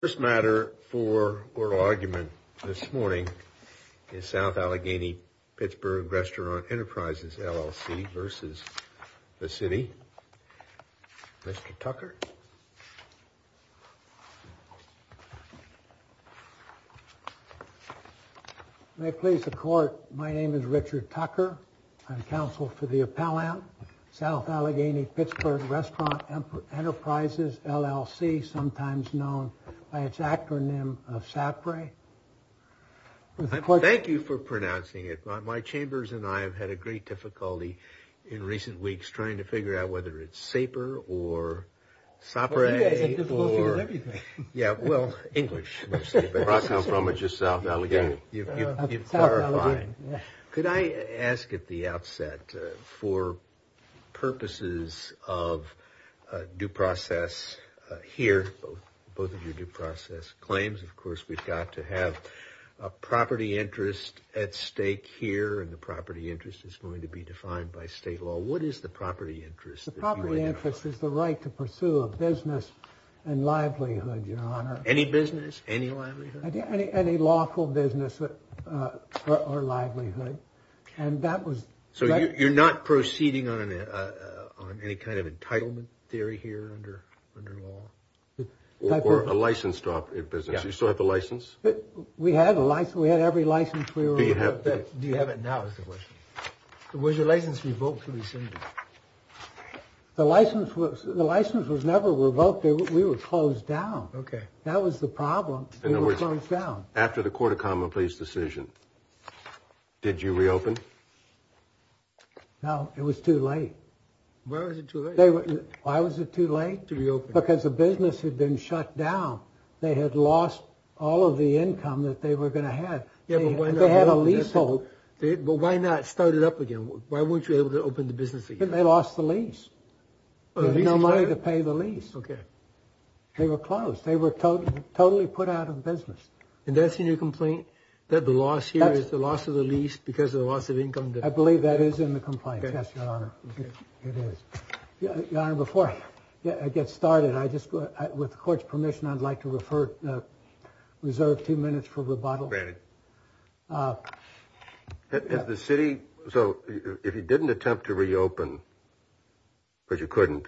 First matter for oral argument this morning is South Allegheny Pittsburgh Restaurant Enterprises LLC versus the city. Mr. Tucker. May it please the court, my name is Richard Tucker. I'm counsel for the appellant, South Allegheny Pittsburgh Restaurant Enterprises LLC, sometimes known by its acronym of SAPRAE. Thank you for pronouncing it. My chambers and I have had a great difficulty in recent weeks trying to figure out whether it's SAPRAE or SAPRAE or, yeah, well, English. Can I ask at the outset for purposes of due process here, both of your due process claims, of course, we've got to have a property interest at stake here and the property interest is going to be defined by state law. So what is the property interest? The property interest is the right to pursue a business and livelihood, your honor. Any business, any livelihood? Any lawful business or livelihood. And that was, so you're not proceeding on any kind of entitlement theory here under law? Or a licensed business, you still have the license? We had a license, we had every license we were able to get. Do you have it now is the question. Was your license revoked to rescind it? The license was, the license was never revoked. We were closed down. Okay. That was the problem. In other words, after the court of common pleas decision, did you reopen? No, it was too late. Why was it too late? Because the business had been shut down. They had lost all of the income that they were going to have. They had a leasehold. But why not start it up again? Why weren't you able to open the business? They lost the lease. No money to pay the lease. Okay. They were closed. They were totally put out of business. And that's in your complaint? That the loss here is the loss of the lease because of the loss of income? I believe that is in the complaint. Yes, your honor. It is. Your honor, before I get started, I just, with the court's permission, I'd like to refer, reserve two minutes for rebuttal. The city. So if you didn't attempt to reopen. But you couldn't.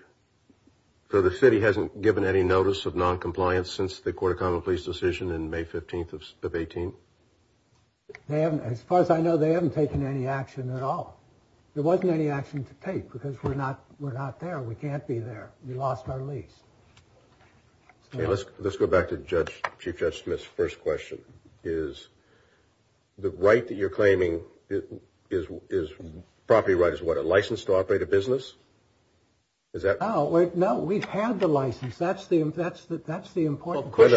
So the city hasn't given any notice of noncompliance since the court of common pleas decision in May 15th of 18. And as far as I know, they haven't taken any action at all. There wasn't any action to take because we're not we're not there. We can't be there. We lost our lease. Let's let's go back to judge. Chief Justice Smith's first question is. The right that you're claiming is is property right is what a license to operate a business. Is that right now? We've had the license. That's the that's the that's the important. But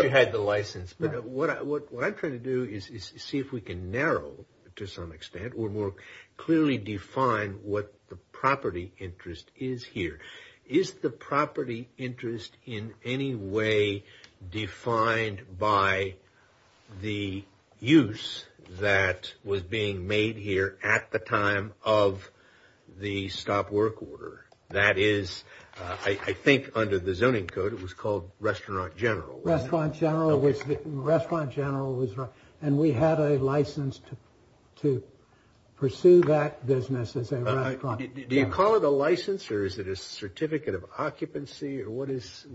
what I'm trying to do is see if we can narrow to some extent or more clearly define what the property interest is here. Is the property interest in any way defined by the use that was being made here at the time of the stop work order? That is, I think, under the zoning code, it was called Restaurant General Restaurant General Restaurant General. And we had a license to to pursue that business. Do you call it a license or is it a certificate of occupancy? Or what is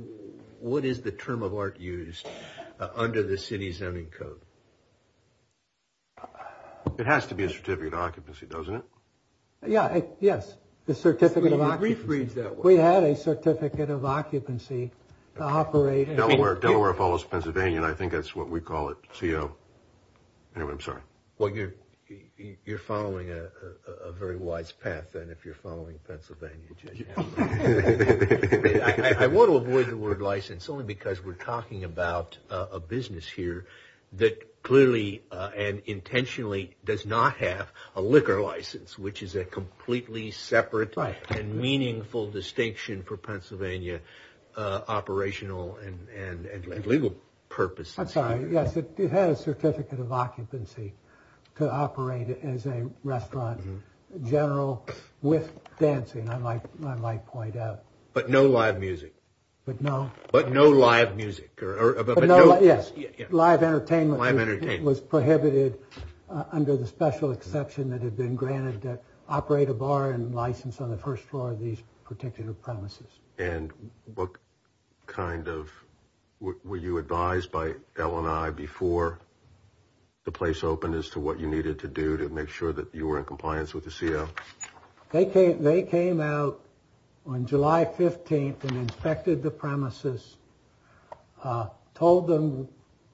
what is the term of art used under the city's zoning code? It has to be a certificate of occupancy, doesn't it? Yeah. Yes. The certificate of refreeze that we had a certificate of occupancy to operate Delaware. Delaware follows Pennsylvania. And I think that's what we call it. Anyway, I'm sorry. Well, you're you're following a very wise path. And if you're following Pennsylvania, I want to avoid the word license only because we're talking about a business here that clearly and intentionally does not have a liquor license, which is a completely separate and meaningful distinction for Pennsylvania operational and legal purposes. I'm sorry. Yes. It has a certificate of occupancy to operate as a restaurant general with dancing. Point out. But no live music. But no. But no live music. Yes. Live entertainment. I've entertained was prohibited under the special exception that had been granted to operate a bar and license on the first floor of these particular premises. And what kind of were you advised by Ellen? I before the place opened as to what you needed to do to make sure that you were in compliance with the CEO. They came they came out on July 15th and inspected the premises, told them,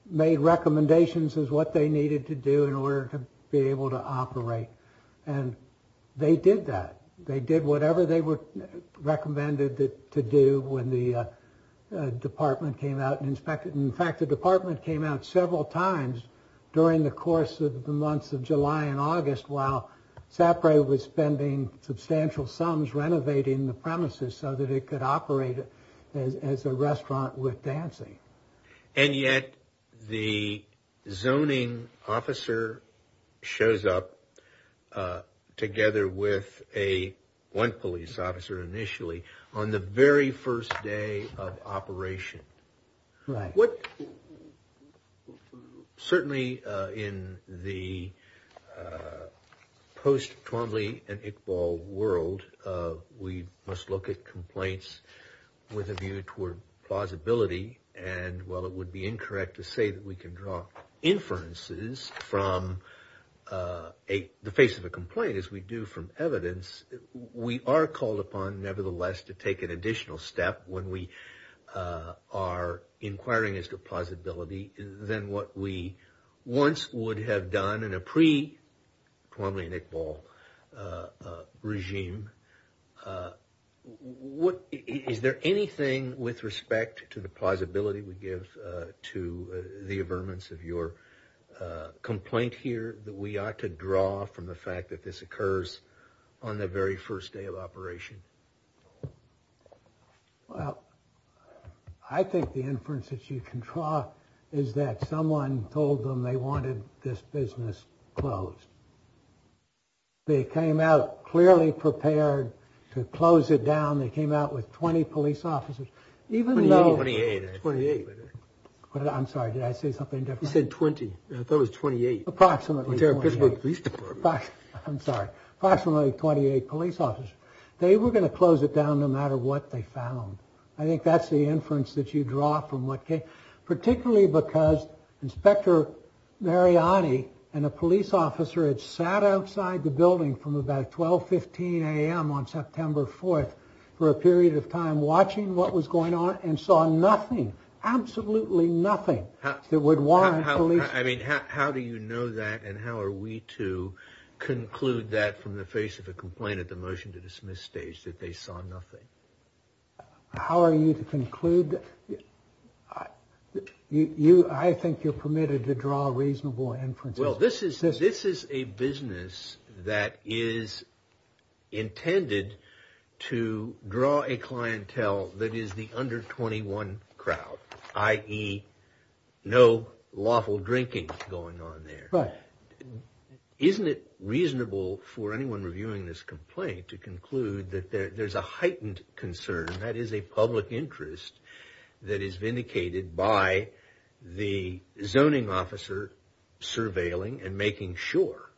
made recommendations as what they needed to do in order to be able to operate. And they did that. They did whatever they were recommended to do when the department came out and inspected. In fact, the department came out several times during the course of the months of July and August, while Sapre was spending substantial sums renovating the premises so that it could operate as a restaurant with dancing. And yet the zoning officer shows up together with a one police officer initially on the very first day of operation. Right. What? Certainly in the post Twombly and Iqbal world, we must look at complaints with a view toward plausibility. And while it would be incorrect to say that we can draw inferences from the face of a complaint as we do from evidence, we are called upon nevertheless to take an additional step when we are inquiring as to plausibility than what we once would have done in a pre-Twombly and Iqbal regime. What is there anything with respect to the plausibility we give to the averments of your complaint here that we ought to draw from the fact that this occurs on the very first day of operation? Well, I think the inference that you can draw is that someone told them they wanted this business closed. They came out clearly prepared to close it down. They came out with 20 police officers, even though. Twenty eight. I'm sorry. Did I say something different? You said 20. I thought it was 28. Approximately. I'm sorry. Approximately 28 police officers. They were going to close it down no matter what they found. I think that's the inference that you draw from what came particularly because Inspector Mariani and a police officer had sat outside the building from about 12.15 a.m. on September 4th for a period of time watching what was going on and saw nothing, absolutely nothing that would warrant police. I mean, how do you know that and how are we to conclude that from the face of a complaint at the motion to dismiss stage that they saw nothing? How are you to conclude that? I think you're permitted to draw reasonable inferences. Well, this is this is a business that is intended to draw a clientele that is the under 21 crowd, i.e. no lawful drinking going on there. But isn't it reasonable for anyone reviewing this complaint to conclude that there's a heightened concern that is a public interest that is vindicated by the zoning officer surveilling and making sure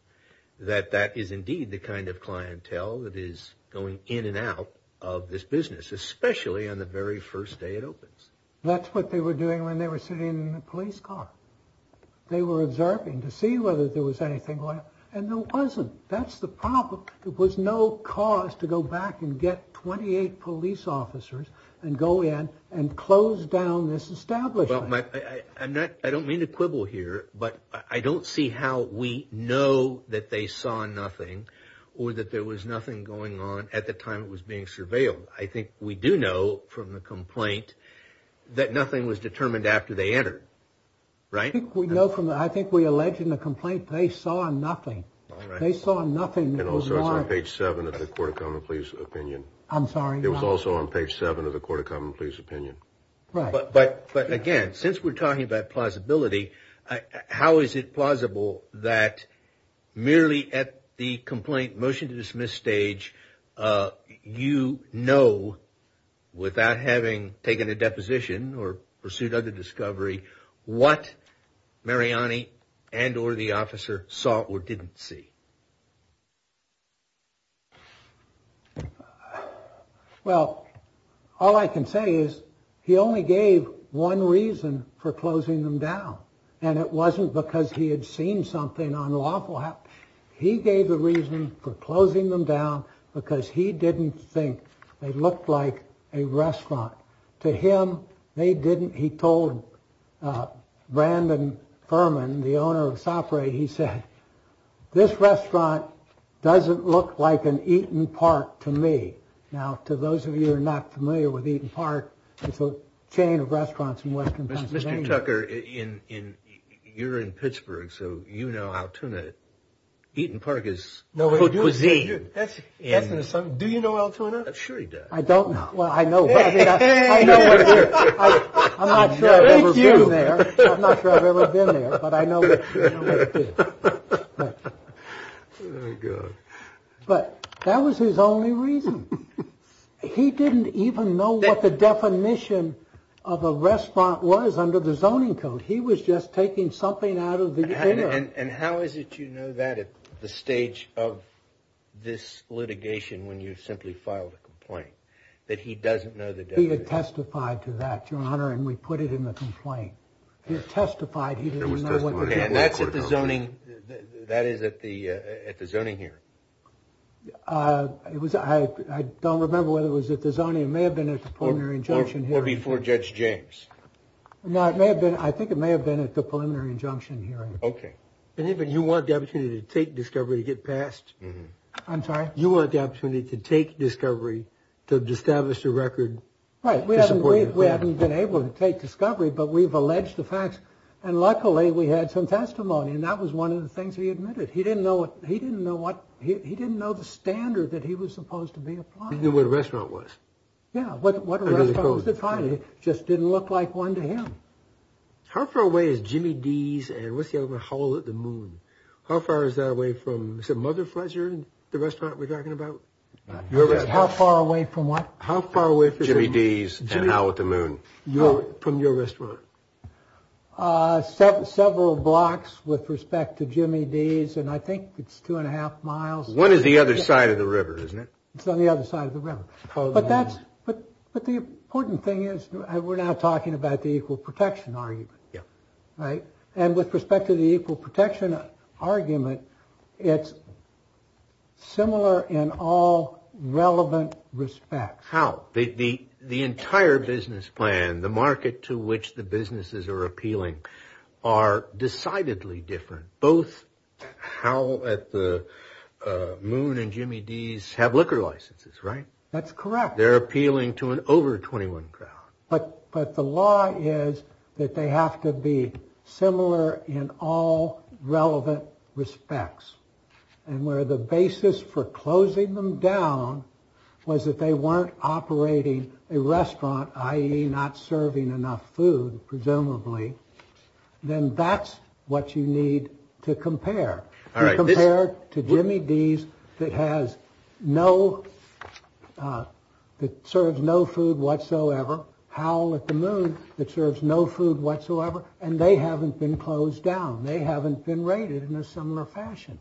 that that is indeed the kind of clientele that is going in and out of this business, especially on the very first day it opens. That's what they were doing when they were sitting in the police car. They were observing to see whether there was anything going on and there wasn't. That's the problem. It was no cause to go back and get 28 police officers and go in and close down this establishment. I don't mean to quibble here, but I don't see how we know that they saw nothing or that there was nothing going on at the time it was being surveilled. I think we do know from the complaint that nothing was determined after they entered. I think we know from the, I think we allege in the complaint they saw nothing. They saw nothing. And also it's on page seven of the Court of Common Pleas opinion. I'm sorry. It was also on page seven of the Court of Common Pleas opinion. But again, since we're talking about plausibility, how is it plausible that merely at the complaint motion to dismiss stage, you know without having taken a deposition or pursuit of the discovery what Mariani and or the officer saw or didn't see? Well, all I can say is he only gave one reason for closing them down. And it wasn't because he had seen something unlawful happen. He gave the reason for closing them down because he didn't think they looked like a restaurant. To him, they didn't. He told Brandon Furman, the owner of Sapre, he said, this restaurant doesn't look like an Eaton Park to me. Now, to those of you who are not familiar with Eaton Park, it's a chain of restaurants in western Pennsylvania. Tucker in you're in Pittsburgh. So, you know, Altona Eaton Park is no cuisine. That's an assumption. Do you know Altona? I'm sure he does. I don't know. Well, I know. I'm not sure I've ever been there, but I know. But that was his only reason. He didn't even know what the definition of a restaurant was under the zoning code. He was just taking something out of the. And how is it, you know, that at the stage of this litigation, when you simply filed a complaint that he doesn't know the. He had testified to that, your honor. And we put it in the complaint. He testified he was. And that's at the zoning. That is at the at the zoning here. It was. I don't remember whether it was at the zoning. It may have been a preliminary injunction here before Judge James. Now, it may have been. I think it may have been at the preliminary injunction hearing. OK. And even you want the opportunity to take discovery to get past. I'm sorry. You want the opportunity to take discovery to establish a record. Right. We haven't been able to take discovery, but we've alleged the facts. And luckily, we had some testimony. And that was one of the things we admitted. He didn't know. He didn't know what he didn't know. He didn't know the standard that he was supposed to be applying. He knew what a restaurant was. Yeah. What a restaurant was. Finally, it just didn't look like one to him. How far away is Jimmy D's and what's the other one, Howl at the Moon? How far is that away from, is it Mother Fletcher, the restaurant we're talking about? How far away from what? How far away from. Jimmy D's and Howl at the Moon. From your restaurant. Several blocks with respect to Jimmy D's. And I think it's two and a half miles. One is the other side of the river, isn't it? It's on the other side of the river. But the important thing is we're not talking about the equal protection argument. Yeah. Right. And with respect to the equal protection argument, it's similar in all relevant respects. How? The entire business plan, the market to which the businesses are appealing, are decidedly different. Both Howl at the Moon and Jimmy D's have liquor licenses, right? That's correct. They're appealing to an over 21 crowd. But the law is that they have to be similar in all relevant respects. And where the basis for closing them down was that they weren't operating a restaurant, i.e. not serving enough food, presumably. Then that's what you need to compare. All right. Compare to Jimmy D's that has no, that serves no food whatsoever. Howl at the Moon that serves no food whatsoever. And they haven't been closed down. They haven't been rated in a similar fashion.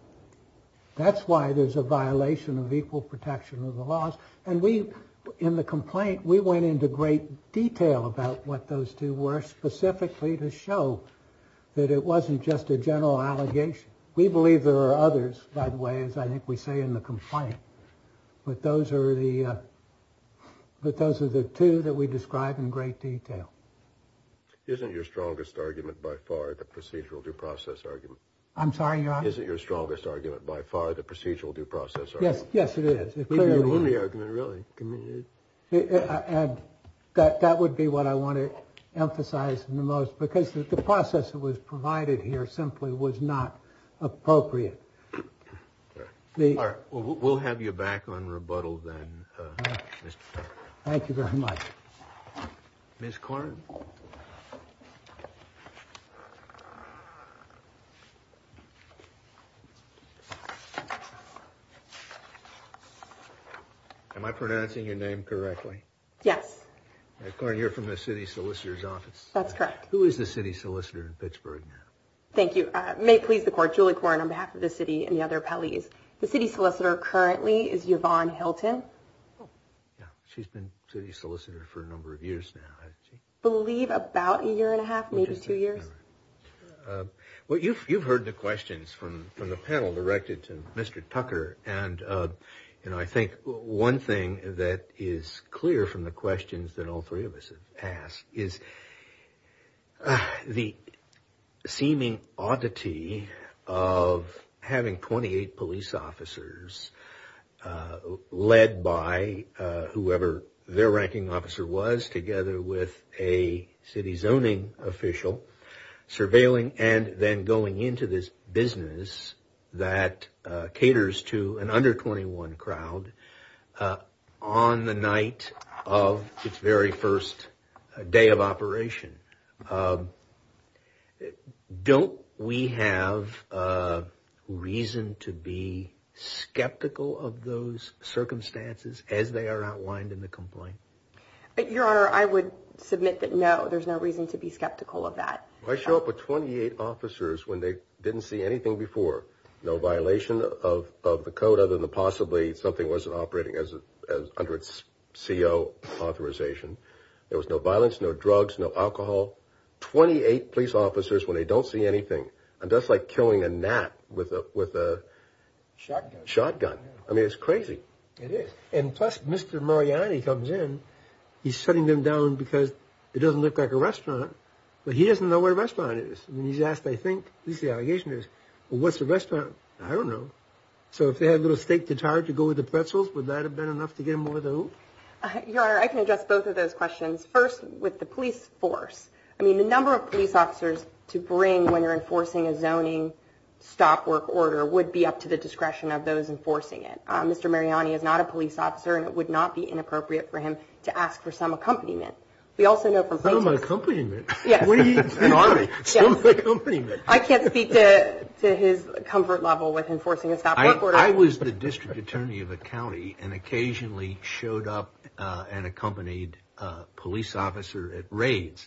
That's why there's a violation of equal protection of the laws. And we in the complaint, we went into great detail about what those two were specifically to show that it wasn't just a general allegation. We believe there are others, by the way, as I think we say in the complaint. But those are the but those are the two that we describe in great detail. Isn't your strongest argument by far the procedural due process argument? I'm sorry. Is it your strongest argument by far the procedural due process? Yes. Yes, it is. Really. And that would be what I want to emphasize the most, because the process that was provided here simply was not appropriate. We'll have you back on rebuttal then. Thank you very much. Miss Corn. Am I pronouncing your name correctly? Yes. Corn, you're from the city solicitor's office. That's correct. Who is the city solicitor in Pittsburgh now? Thank you. May it please the court. Julie Corn on behalf of the city and the other appellees. The city solicitor currently is Yvonne Hilton. She's been city solicitor for a number of years now. I believe about a year and a half, maybe two years. Well, you've heard the questions from the panel directed to Mr. Tucker. And I think one thing that is clear from the questions that all three of us have asked is the seeming oddity of having 28 police officers led by whoever their ranking officer was, together with a city zoning official, surveilling and then going into this business that caters to an under 21 crowd on the night of its very first day of operation. Don't we have reason to be skeptical of those circumstances as they are outlined in the complaint? Your Honor, I would submit that no, there's no reason to be skeptical of that. Why show up with 28 officers when they didn't see anything before? No violation of the code other than possibly something wasn't operating under its CO authorization. There was no violence, no drugs, no alcohol. 28 police officers when they don't see anything. And that's like killing a gnat with a shotgun. I mean, it's crazy. It is. And plus, Mr. Mariani comes in. He's shutting them down because it doesn't look like a restaurant. But he doesn't know where the restaurant is. And he's asked, I think, at least the allegation is, well, what's the restaurant? I don't know. So if they had a little steak tart to go with the pretzels, would that have been enough to get them over the hoop? Your Honor, I can address both of those questions. First, with the police force. I mean, the number of police officers to bring when you're enforcing a zoning stop work order would be up to the discretion of those enforcing it. Mr. Mariani is not a police officer, and it would not be inappropriate for him to ask for some accompaniment. Some accompaniment? Yes. An army. Some accompaniment. I can't speak to his comfort level with enforcing a stop work order. I was the district attorney of a county and occasionally showed up and accompanied a police officer at raids.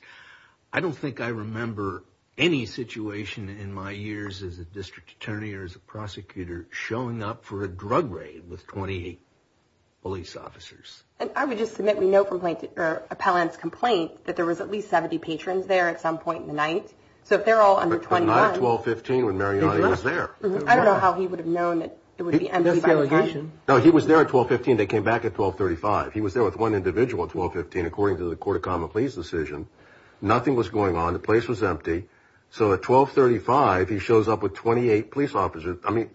I don't think I remember any situation in my years as a district attorney or as a prosecutor showing up for a drug raid with 28 police officers. And I would just submit we know from Appellant's complaint that there was at least 70 patrons there at some point in the night. So if they're all under 21. But not at 1215 when Mariani was there. I don't know how he would have known that there would be empty violations. No, he was there at 1215. They came back at 1235. He was there with one individual at 1215 according to the Court of Common Pleas decision. Nothing was going on. The place was empty. So at 1235, he shows up with 28 police officers. I mean,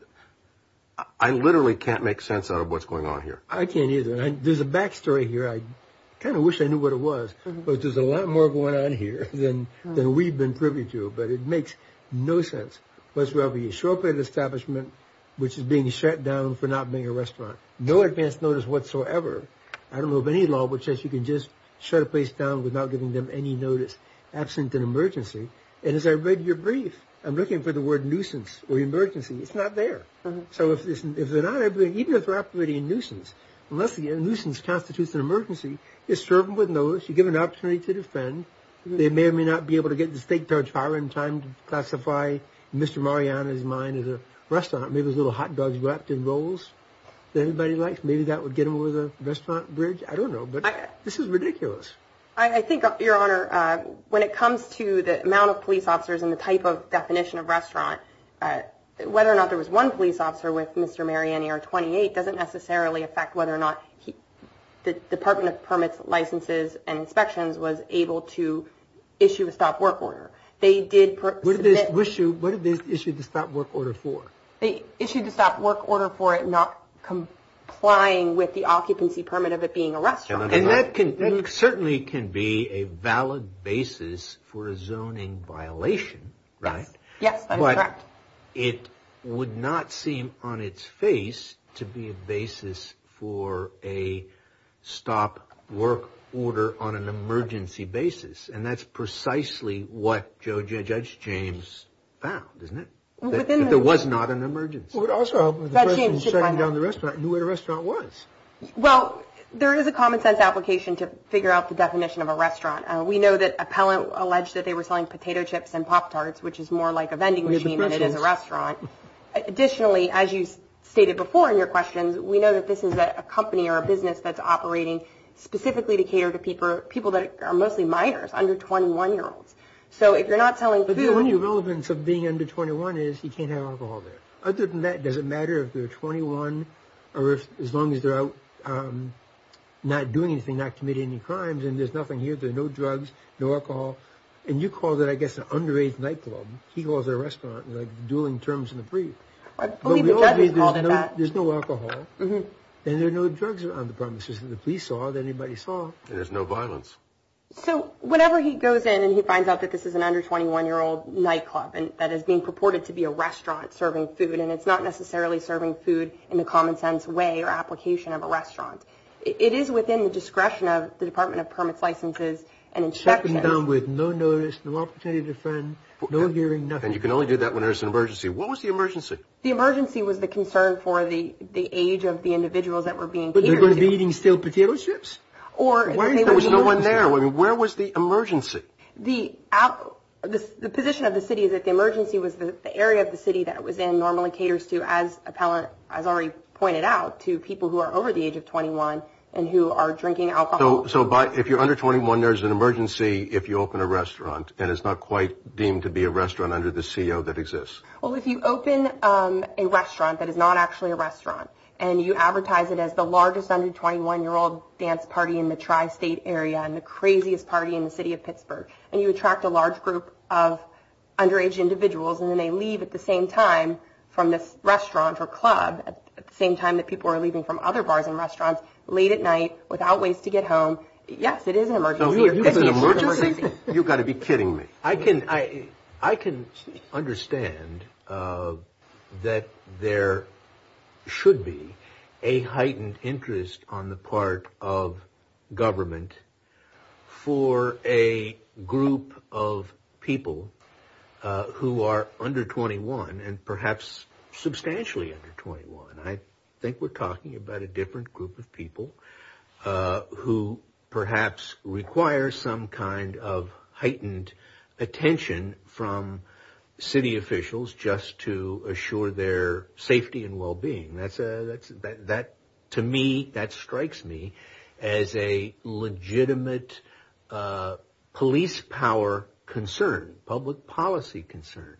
I literally can't make sense out of what's going on here. I can't either. There's a back story here. I kind of wish I knew what it was. But there's a lot more going on here than we've been privy to. But it makes no sense. And as I read your brief, I'm looking for the word nuisance or emergency. It's not there. So if they're not, even if they're operating a nuisance, unless a nuisance constitutes an emergency, you serve them with notice. You give them an opportunity to defend. They may or may not be able to get to the state judge higher in time to classify nuisance as a crime. Mr. Mariani's mind is a restaurant. Maybe there's little hot dogs wrapped in rolls that everybody likes. Maybe that would get them over the restaurant bridge. I don't know. But this is ridiculous. I think, Your Honor, when it comes to the amount of police officers and the type of definition of restaurant, whether or not there was one police officer with Mr. Mariani or 28 doesn't necessarily affect whether or not the Department of Permits, Licenses and Inspections was able to issue a stop work order. What did they issue the stop work order for? They issued the stop work order for it not complying with the occupancy permit of it being a restaurant. And that certainly can be a valid basis for a zoning violation, right? Yes, that is correct. But it would not seem on its face to be a basis for a stop work order on an emergency basis. And that's precisely what Judge James found, isn't it? That there was not an emergency. Also, the person shutting down the restaurant knew what a restaurant was. Well, there is a common sense application to figure out the definition of a restaurant. We know that appellant alleged that they were selling potato chips and Pop-Tarts, which is more like a vending machine than it is a restaurant. Additionally, as you stated before in your questions, we know that this is a company or a business that's operating specifically to cater to people that are mostly minors, under 21-year-olds. So if you're not selling food... But the only relevance of being under 21 is you can't have alcohol there. Other than that, does it matter if they're 21 or as long as they're not doing anything, not committing any crimes, and there's nothing here, there's no drugs, no alcohol. And you call that, I guess, an underage nightclub. He calls it a restaurant, like the dueling terms in the brief. I believe the judge has called it that. There's no alcohol, and there are no drugs on the premises. If the police saw it, anybody saw it. And there's no violence. So whenever he goes in and he finds out that this is an under 21-year-old nightclub that is being purported to be a restaurant serving food, and it's not necessarily serving food in the common sense way or application of a restaurant, it is within the discretion of the Department of Permits, Licenses, and Inspections. Checking down with no notice, no opportunity to defend, no hearing, nothing. And you can only do that when there's an emergency. What was the emergency? The emergency was the concern for the age of the individuals that were being catered to. But they're going to be eating stale potato strips? There was no one there. Where was the emergency? The position of the city is that the emergency was the area of the city that it was in, normally caters to, as Appellant has already pointed out, to people who are over the age of 21 and who are drinking alcohol. So if you're under 21, there's an emergency if you open a restaurant, and it's not quite deemed to be a restaurant under the CO that exists. Well, if you open a restaurant that is not actually a restaurant and you advertise it as the largest under-21-year-old dance party in the tri-state area and the craziest party in the city of Pittsburgh, and you attract a large group of underage individuals and then they leave at the same time from this restaurant or club, at the same time that people are leaving from other bars and restaurants, late at night, without ways to get home, yes, it is an emergency. It's an emergency? You've got to be kidding me. I can understand that there should be a heightened interest on the part of government for a group of people who are under 21 and perhaps substantially under 21. I think we're talking about a different group of people who perhaps require some kind of heightened attention from city officials just to assure their safety and well-being. To me, that strikes me as a legitimate police power concern, public policy concern.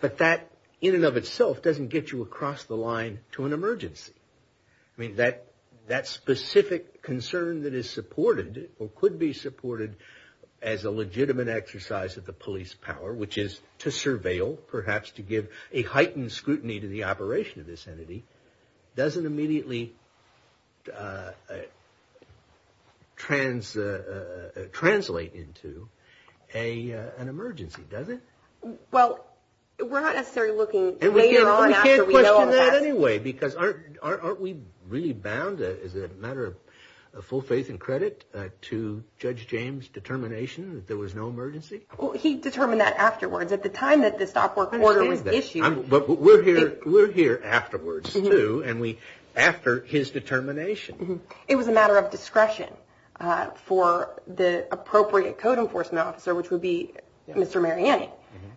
But that in and of itself doesn't get you across the line to an emergency. I mean, that specific concern that is supported or could be supported as a legitimate exercise of the police power, which is to surveil, perhaps to give a heightened scrutiny to the operation of this entity, doesn't immediately translate into an emergency, does it? Well, we're not necessarily looking later on after we know all this. We're doing that anyway because aren't we really bound, as a matter of full faith and credit, to Judge James' determination that there was no emergency? Well, he determined that afterwards, at the time that the stop work order was issued. But we're here afterwards, too, and after his determination. It was a matter of discretion for the appropriate code enforcement officer, which would be Mr. Mariani,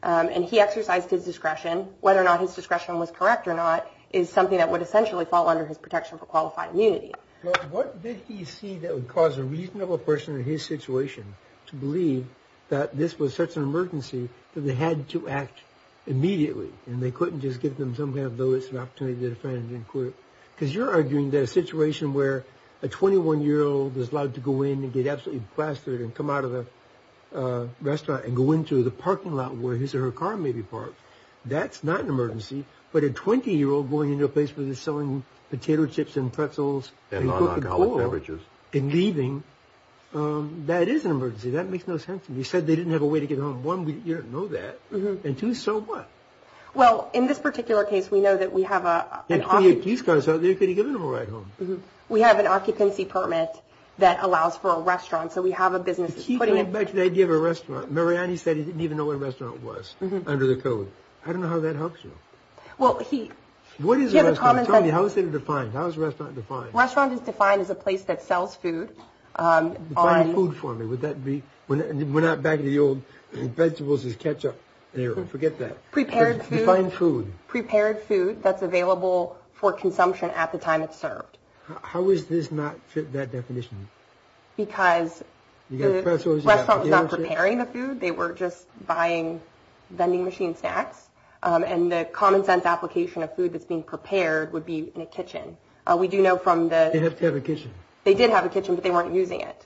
and he exercised his discretion. And whether or not his discretion was correct or not is something that would essentially fall under his protection for qualified immunity. Well, what did he see that would cause a reasonable person in his situation to believe that this was such an emergency that they had to act immediately and they couldn't just give them some kind of notice and opportunity to defend and inquire? Because you're arguing that a situation where a 21-year-old is allowed to go in and get absolutely plastered and come out of the restaurant and go into the parking lot where his or her car may be parked, that's not an emergency. But a 20-year-old going into a place where they're selling potato chips and pretzels and Coca-Cola and leaving, that is an emergency. That makes no sense to me. You said they didn't have a way to get home. One, you don't know that. And two, so what? Well, in this particular case, we know that we have an occupancy permit that allows for a restaurant. So we have a business that's putting it – I like the idea of a restaurant. Mariani said he didn't even know what a restaurant was under the code. I don't know how that helps you. Well, he – What is a restaurant? Tell me, how is it defined? How is a restaurant defined? A restaurant is defined as a place that sells food on – Define food for me. Would that be – We're not back to the old vegetables is ketchup era. Forget that. Prepared food. Define food. Prepared food that's available for consumption at the time it's served. How is this not fit that definition? Because the restaurant was not preparing the food. They were just buying vending machine snacks. And the common sense application of food that's being prepared would be in a kitchen. We do know from the – They have to have a kitchen. They did have a kitchen, but they weren't using it.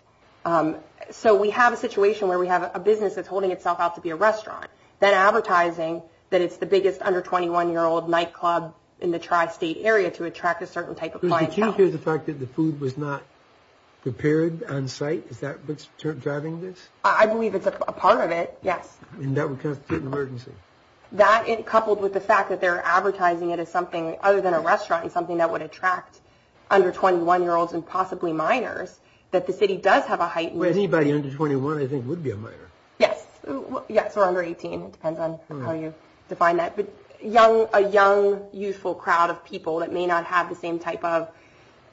So we have a situation where we have a business that's holding itself out to be a restaurant, then advertising that it's the biggest under-21-year-old nightclub in the tri-state area to attract a certain type of clientele. And here's the fact that the food was not prepared on site. Is that what's driving this? I believe it's a part of it, yes. And that would constitute an emergency. That, coupled with the fact that they're advertising it as something other than a restaurant and something that would attract under-21-year-olds and possibly minors, that the city does have a heightened – Anybody under 21, I think, would be a minor. Yes. Yes, or under 18. It depends on how you define that. A young, youthful crowd of people that may not have the same type of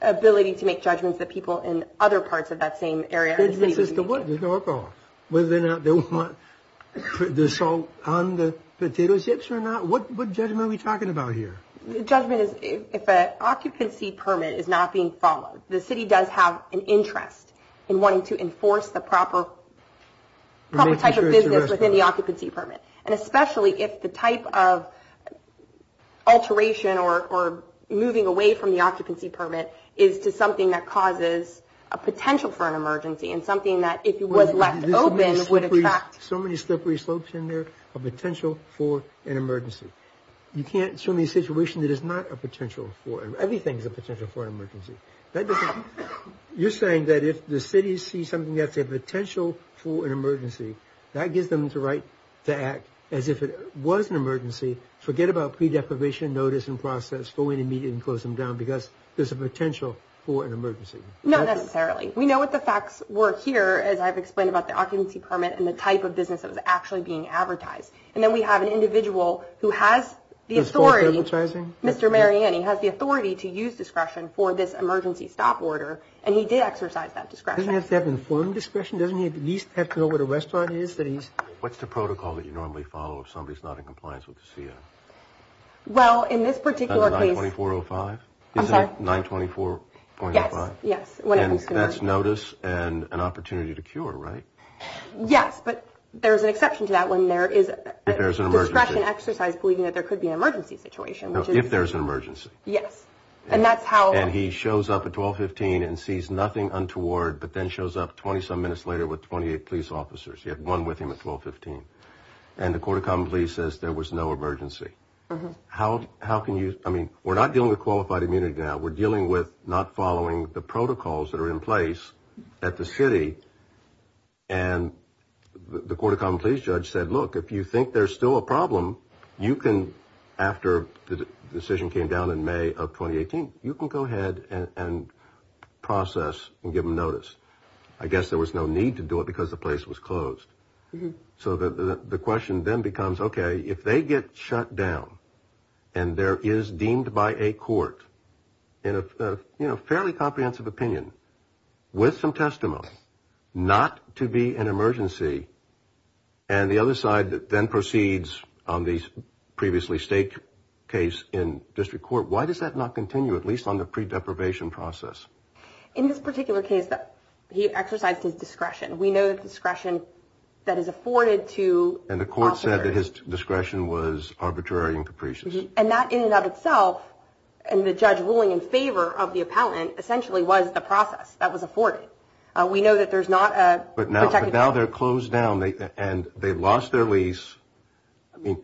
ability to make judgments that people in other parts of that same area or the city need to. Judgment is the work. Whether or not they want the salt on the potato chips or not. What judgment are we talking about here? Judgment is if an occupancy permit is not being followed. The city does have an interest in wanting to enforce the proper type of business within the occupancy permit. And especially if the type of alteration or moving away from the occupancy permit is to something that causes a potential for an emergency and something that, if it was left open, would attract. So many slippery slopes in there, a potential for an emergency. You can't assume a situation that is not a potential for – everything is a potential for an emergency. That doesn't – you're saying that if the city sees something that's a potential for an emergency, that gives them the right to act as if it was an emergency. Forget about pre-deprivation, notice, and process. Go in immediately and close them down because there's a potential for an emergency. Not necessarily. We know what the facts were here, as I've explained about the occupancy permit and the type of business that was actually being advertised. And then we have an individual who has the authority. Was false advertising? Mr. Mariani has the authority to use discretion for this emergency stop order. And he did exercise that discretion. He doesn't have to have informed discretion. Doesn't he at least have to know where the restaurant is that he's – What's the protocol that you normally follow if somebody's not in compliance with the CF? Well, in this particular case – 924.05? I'm sorry? 924.05? Yes, yes. And that's notice and an opportunity to cure, right? Yes, but there's an exception to that when there is a discretion exercise believing that there could be an emergency situation. If there's an emergency. Yes. And that's how – and sees nothing untoward but then shows up 20-some minutes later with 28 police officers. He had one with him at 1215. And the Court of Common Pleas says there was no emergency. How can you – I mean, we're not dealing with qualified immunity now. We're dealing with not following the protocols that are in place at the city. And the Court of Common Pleas judge said, look, if you think there's still a problem, you can, after the decision came down in May of 2018, you can go ahead and process and give them notice. I guess there was no need to do it because the place was closed. So the question then becomes, okay, if they get shut down and there is deemed by a court in a fairly comprehensive opinion with some testimony not to be an emergency and the other side then proceeds on the previously staked case in district court, why does that not continue, at least on the pre-deprivation process? In this particular case, he exercised his discretion. We know that discretion that is afforded to officers – And the court said that his discretion was arbitrary and capricious. And that in and of itself, and the judge ruling in favor of the appellant, essentially was the process that was afforded. We know that there's not a – But now they're closed down and they lost their lease. I mean,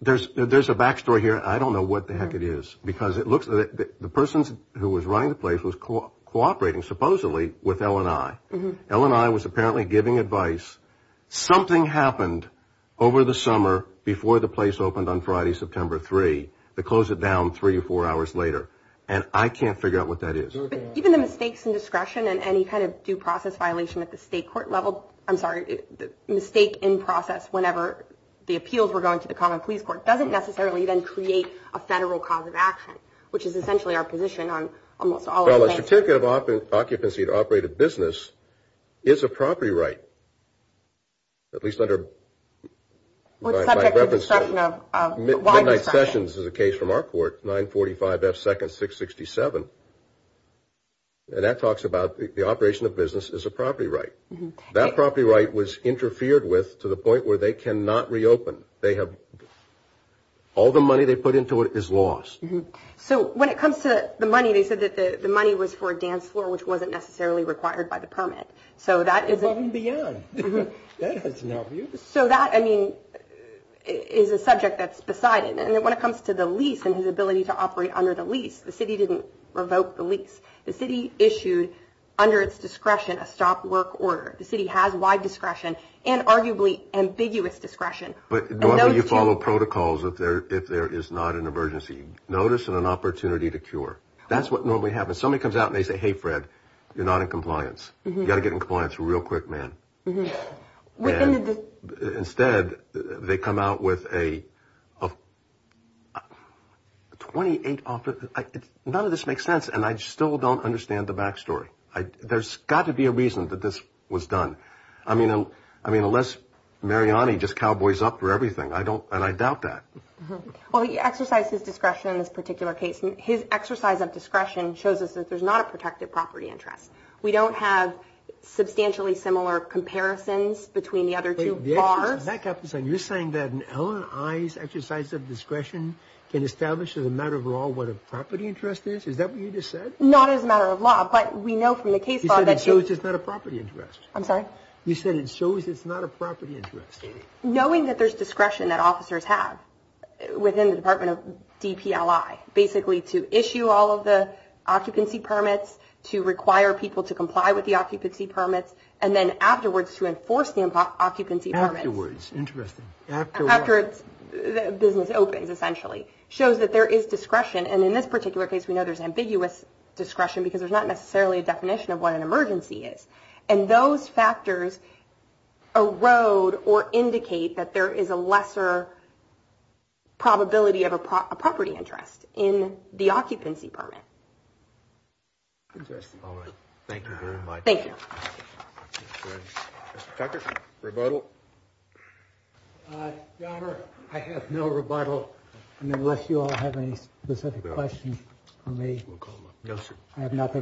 there's a back story here. I don't know what the heck it is because it looks like the person who was running the place was cooperating supposedly with L&I. L&I was apparently giving advice. Something happened over the summer before the place opened on Friday, September 3. They closed it down three or four hours later. And I can't figure out what that is. But even the mistakes in discretion and any kind of due process violation at the state court level – I'm sorry, the mistake in process whenever the appeals were going to the common police court doesn't necessarily then create a federal cause of action, which is essentially our position on almost all of the cases. Well, a certificate of occupancy to operate a business is a property right, at least under – What subject of discretion of – Midnight Sessions is a case from our court, 945 F. Second 667. And that talks about the operation of business as a property right. That property right was interfered with to the point where they cannot reopen. They have – all the money they put into it is lost. So when it comes to the money, they said that the money was for a dance floor, which wasn't necessarily required by the permit. So that is – Above and beyond. That has no use. So that, I mean, is a subject that's beside it. And when it comes to the lease and his ability to operate under the lease, the city didn't revoke the lease. The city issued, under its discretion, a stop work order. The city has wide discretion and arguably ambiguous discretion. But normally you follow protocols if there is not an emergency. Notice and an opportunity to cure. That's what normally happens. Somebody comes out and they say, hey, Fred, you're not in compliance. You've got to get in compliance real quick, man. And instead, they come out with a 28 – none of this makes sense. And I still don't understand the back story. There's got to be a reason that this was done. I mean, unless Mariani just cowboys up for everything. I don't – and I doubt that. Well, he exercised his discretion in this particular case. His exercise of discretion shows us that there's not a protected property interest. We don't have substantially similar comparisons between the other two bars. Wait, there are? You're saying that an L&I's exercise of discretion can establish as a matter of law what a property interest is? Is that what you just said? Not as a matter of law, but we know from the case law that you – You said it shows it's not a property interest. I'm sorry? You said it shows it's not a property interest. Knowing that there's discretion that officers have within the Department of DPLI, basically to issue all of the occupancy permits, to require people to comply with the occupancy permits, and then afterwards to enforce the occupancy permits. Afterwards. Interesting. After what? After business opens, essentially. Shows that there is discretion. And in this particular case, we know there's ambiguous discretion because there's not necessarily a definition of what an emergency is. And those factors erode or indicate that there is a lesser probability of a property interest in the occupancy permit. Interesting. All right. Thank you. Mr. Tucker, rebuttal? Governor, I have no rebuttal, unless you all have any specific questions for me. I have nothing.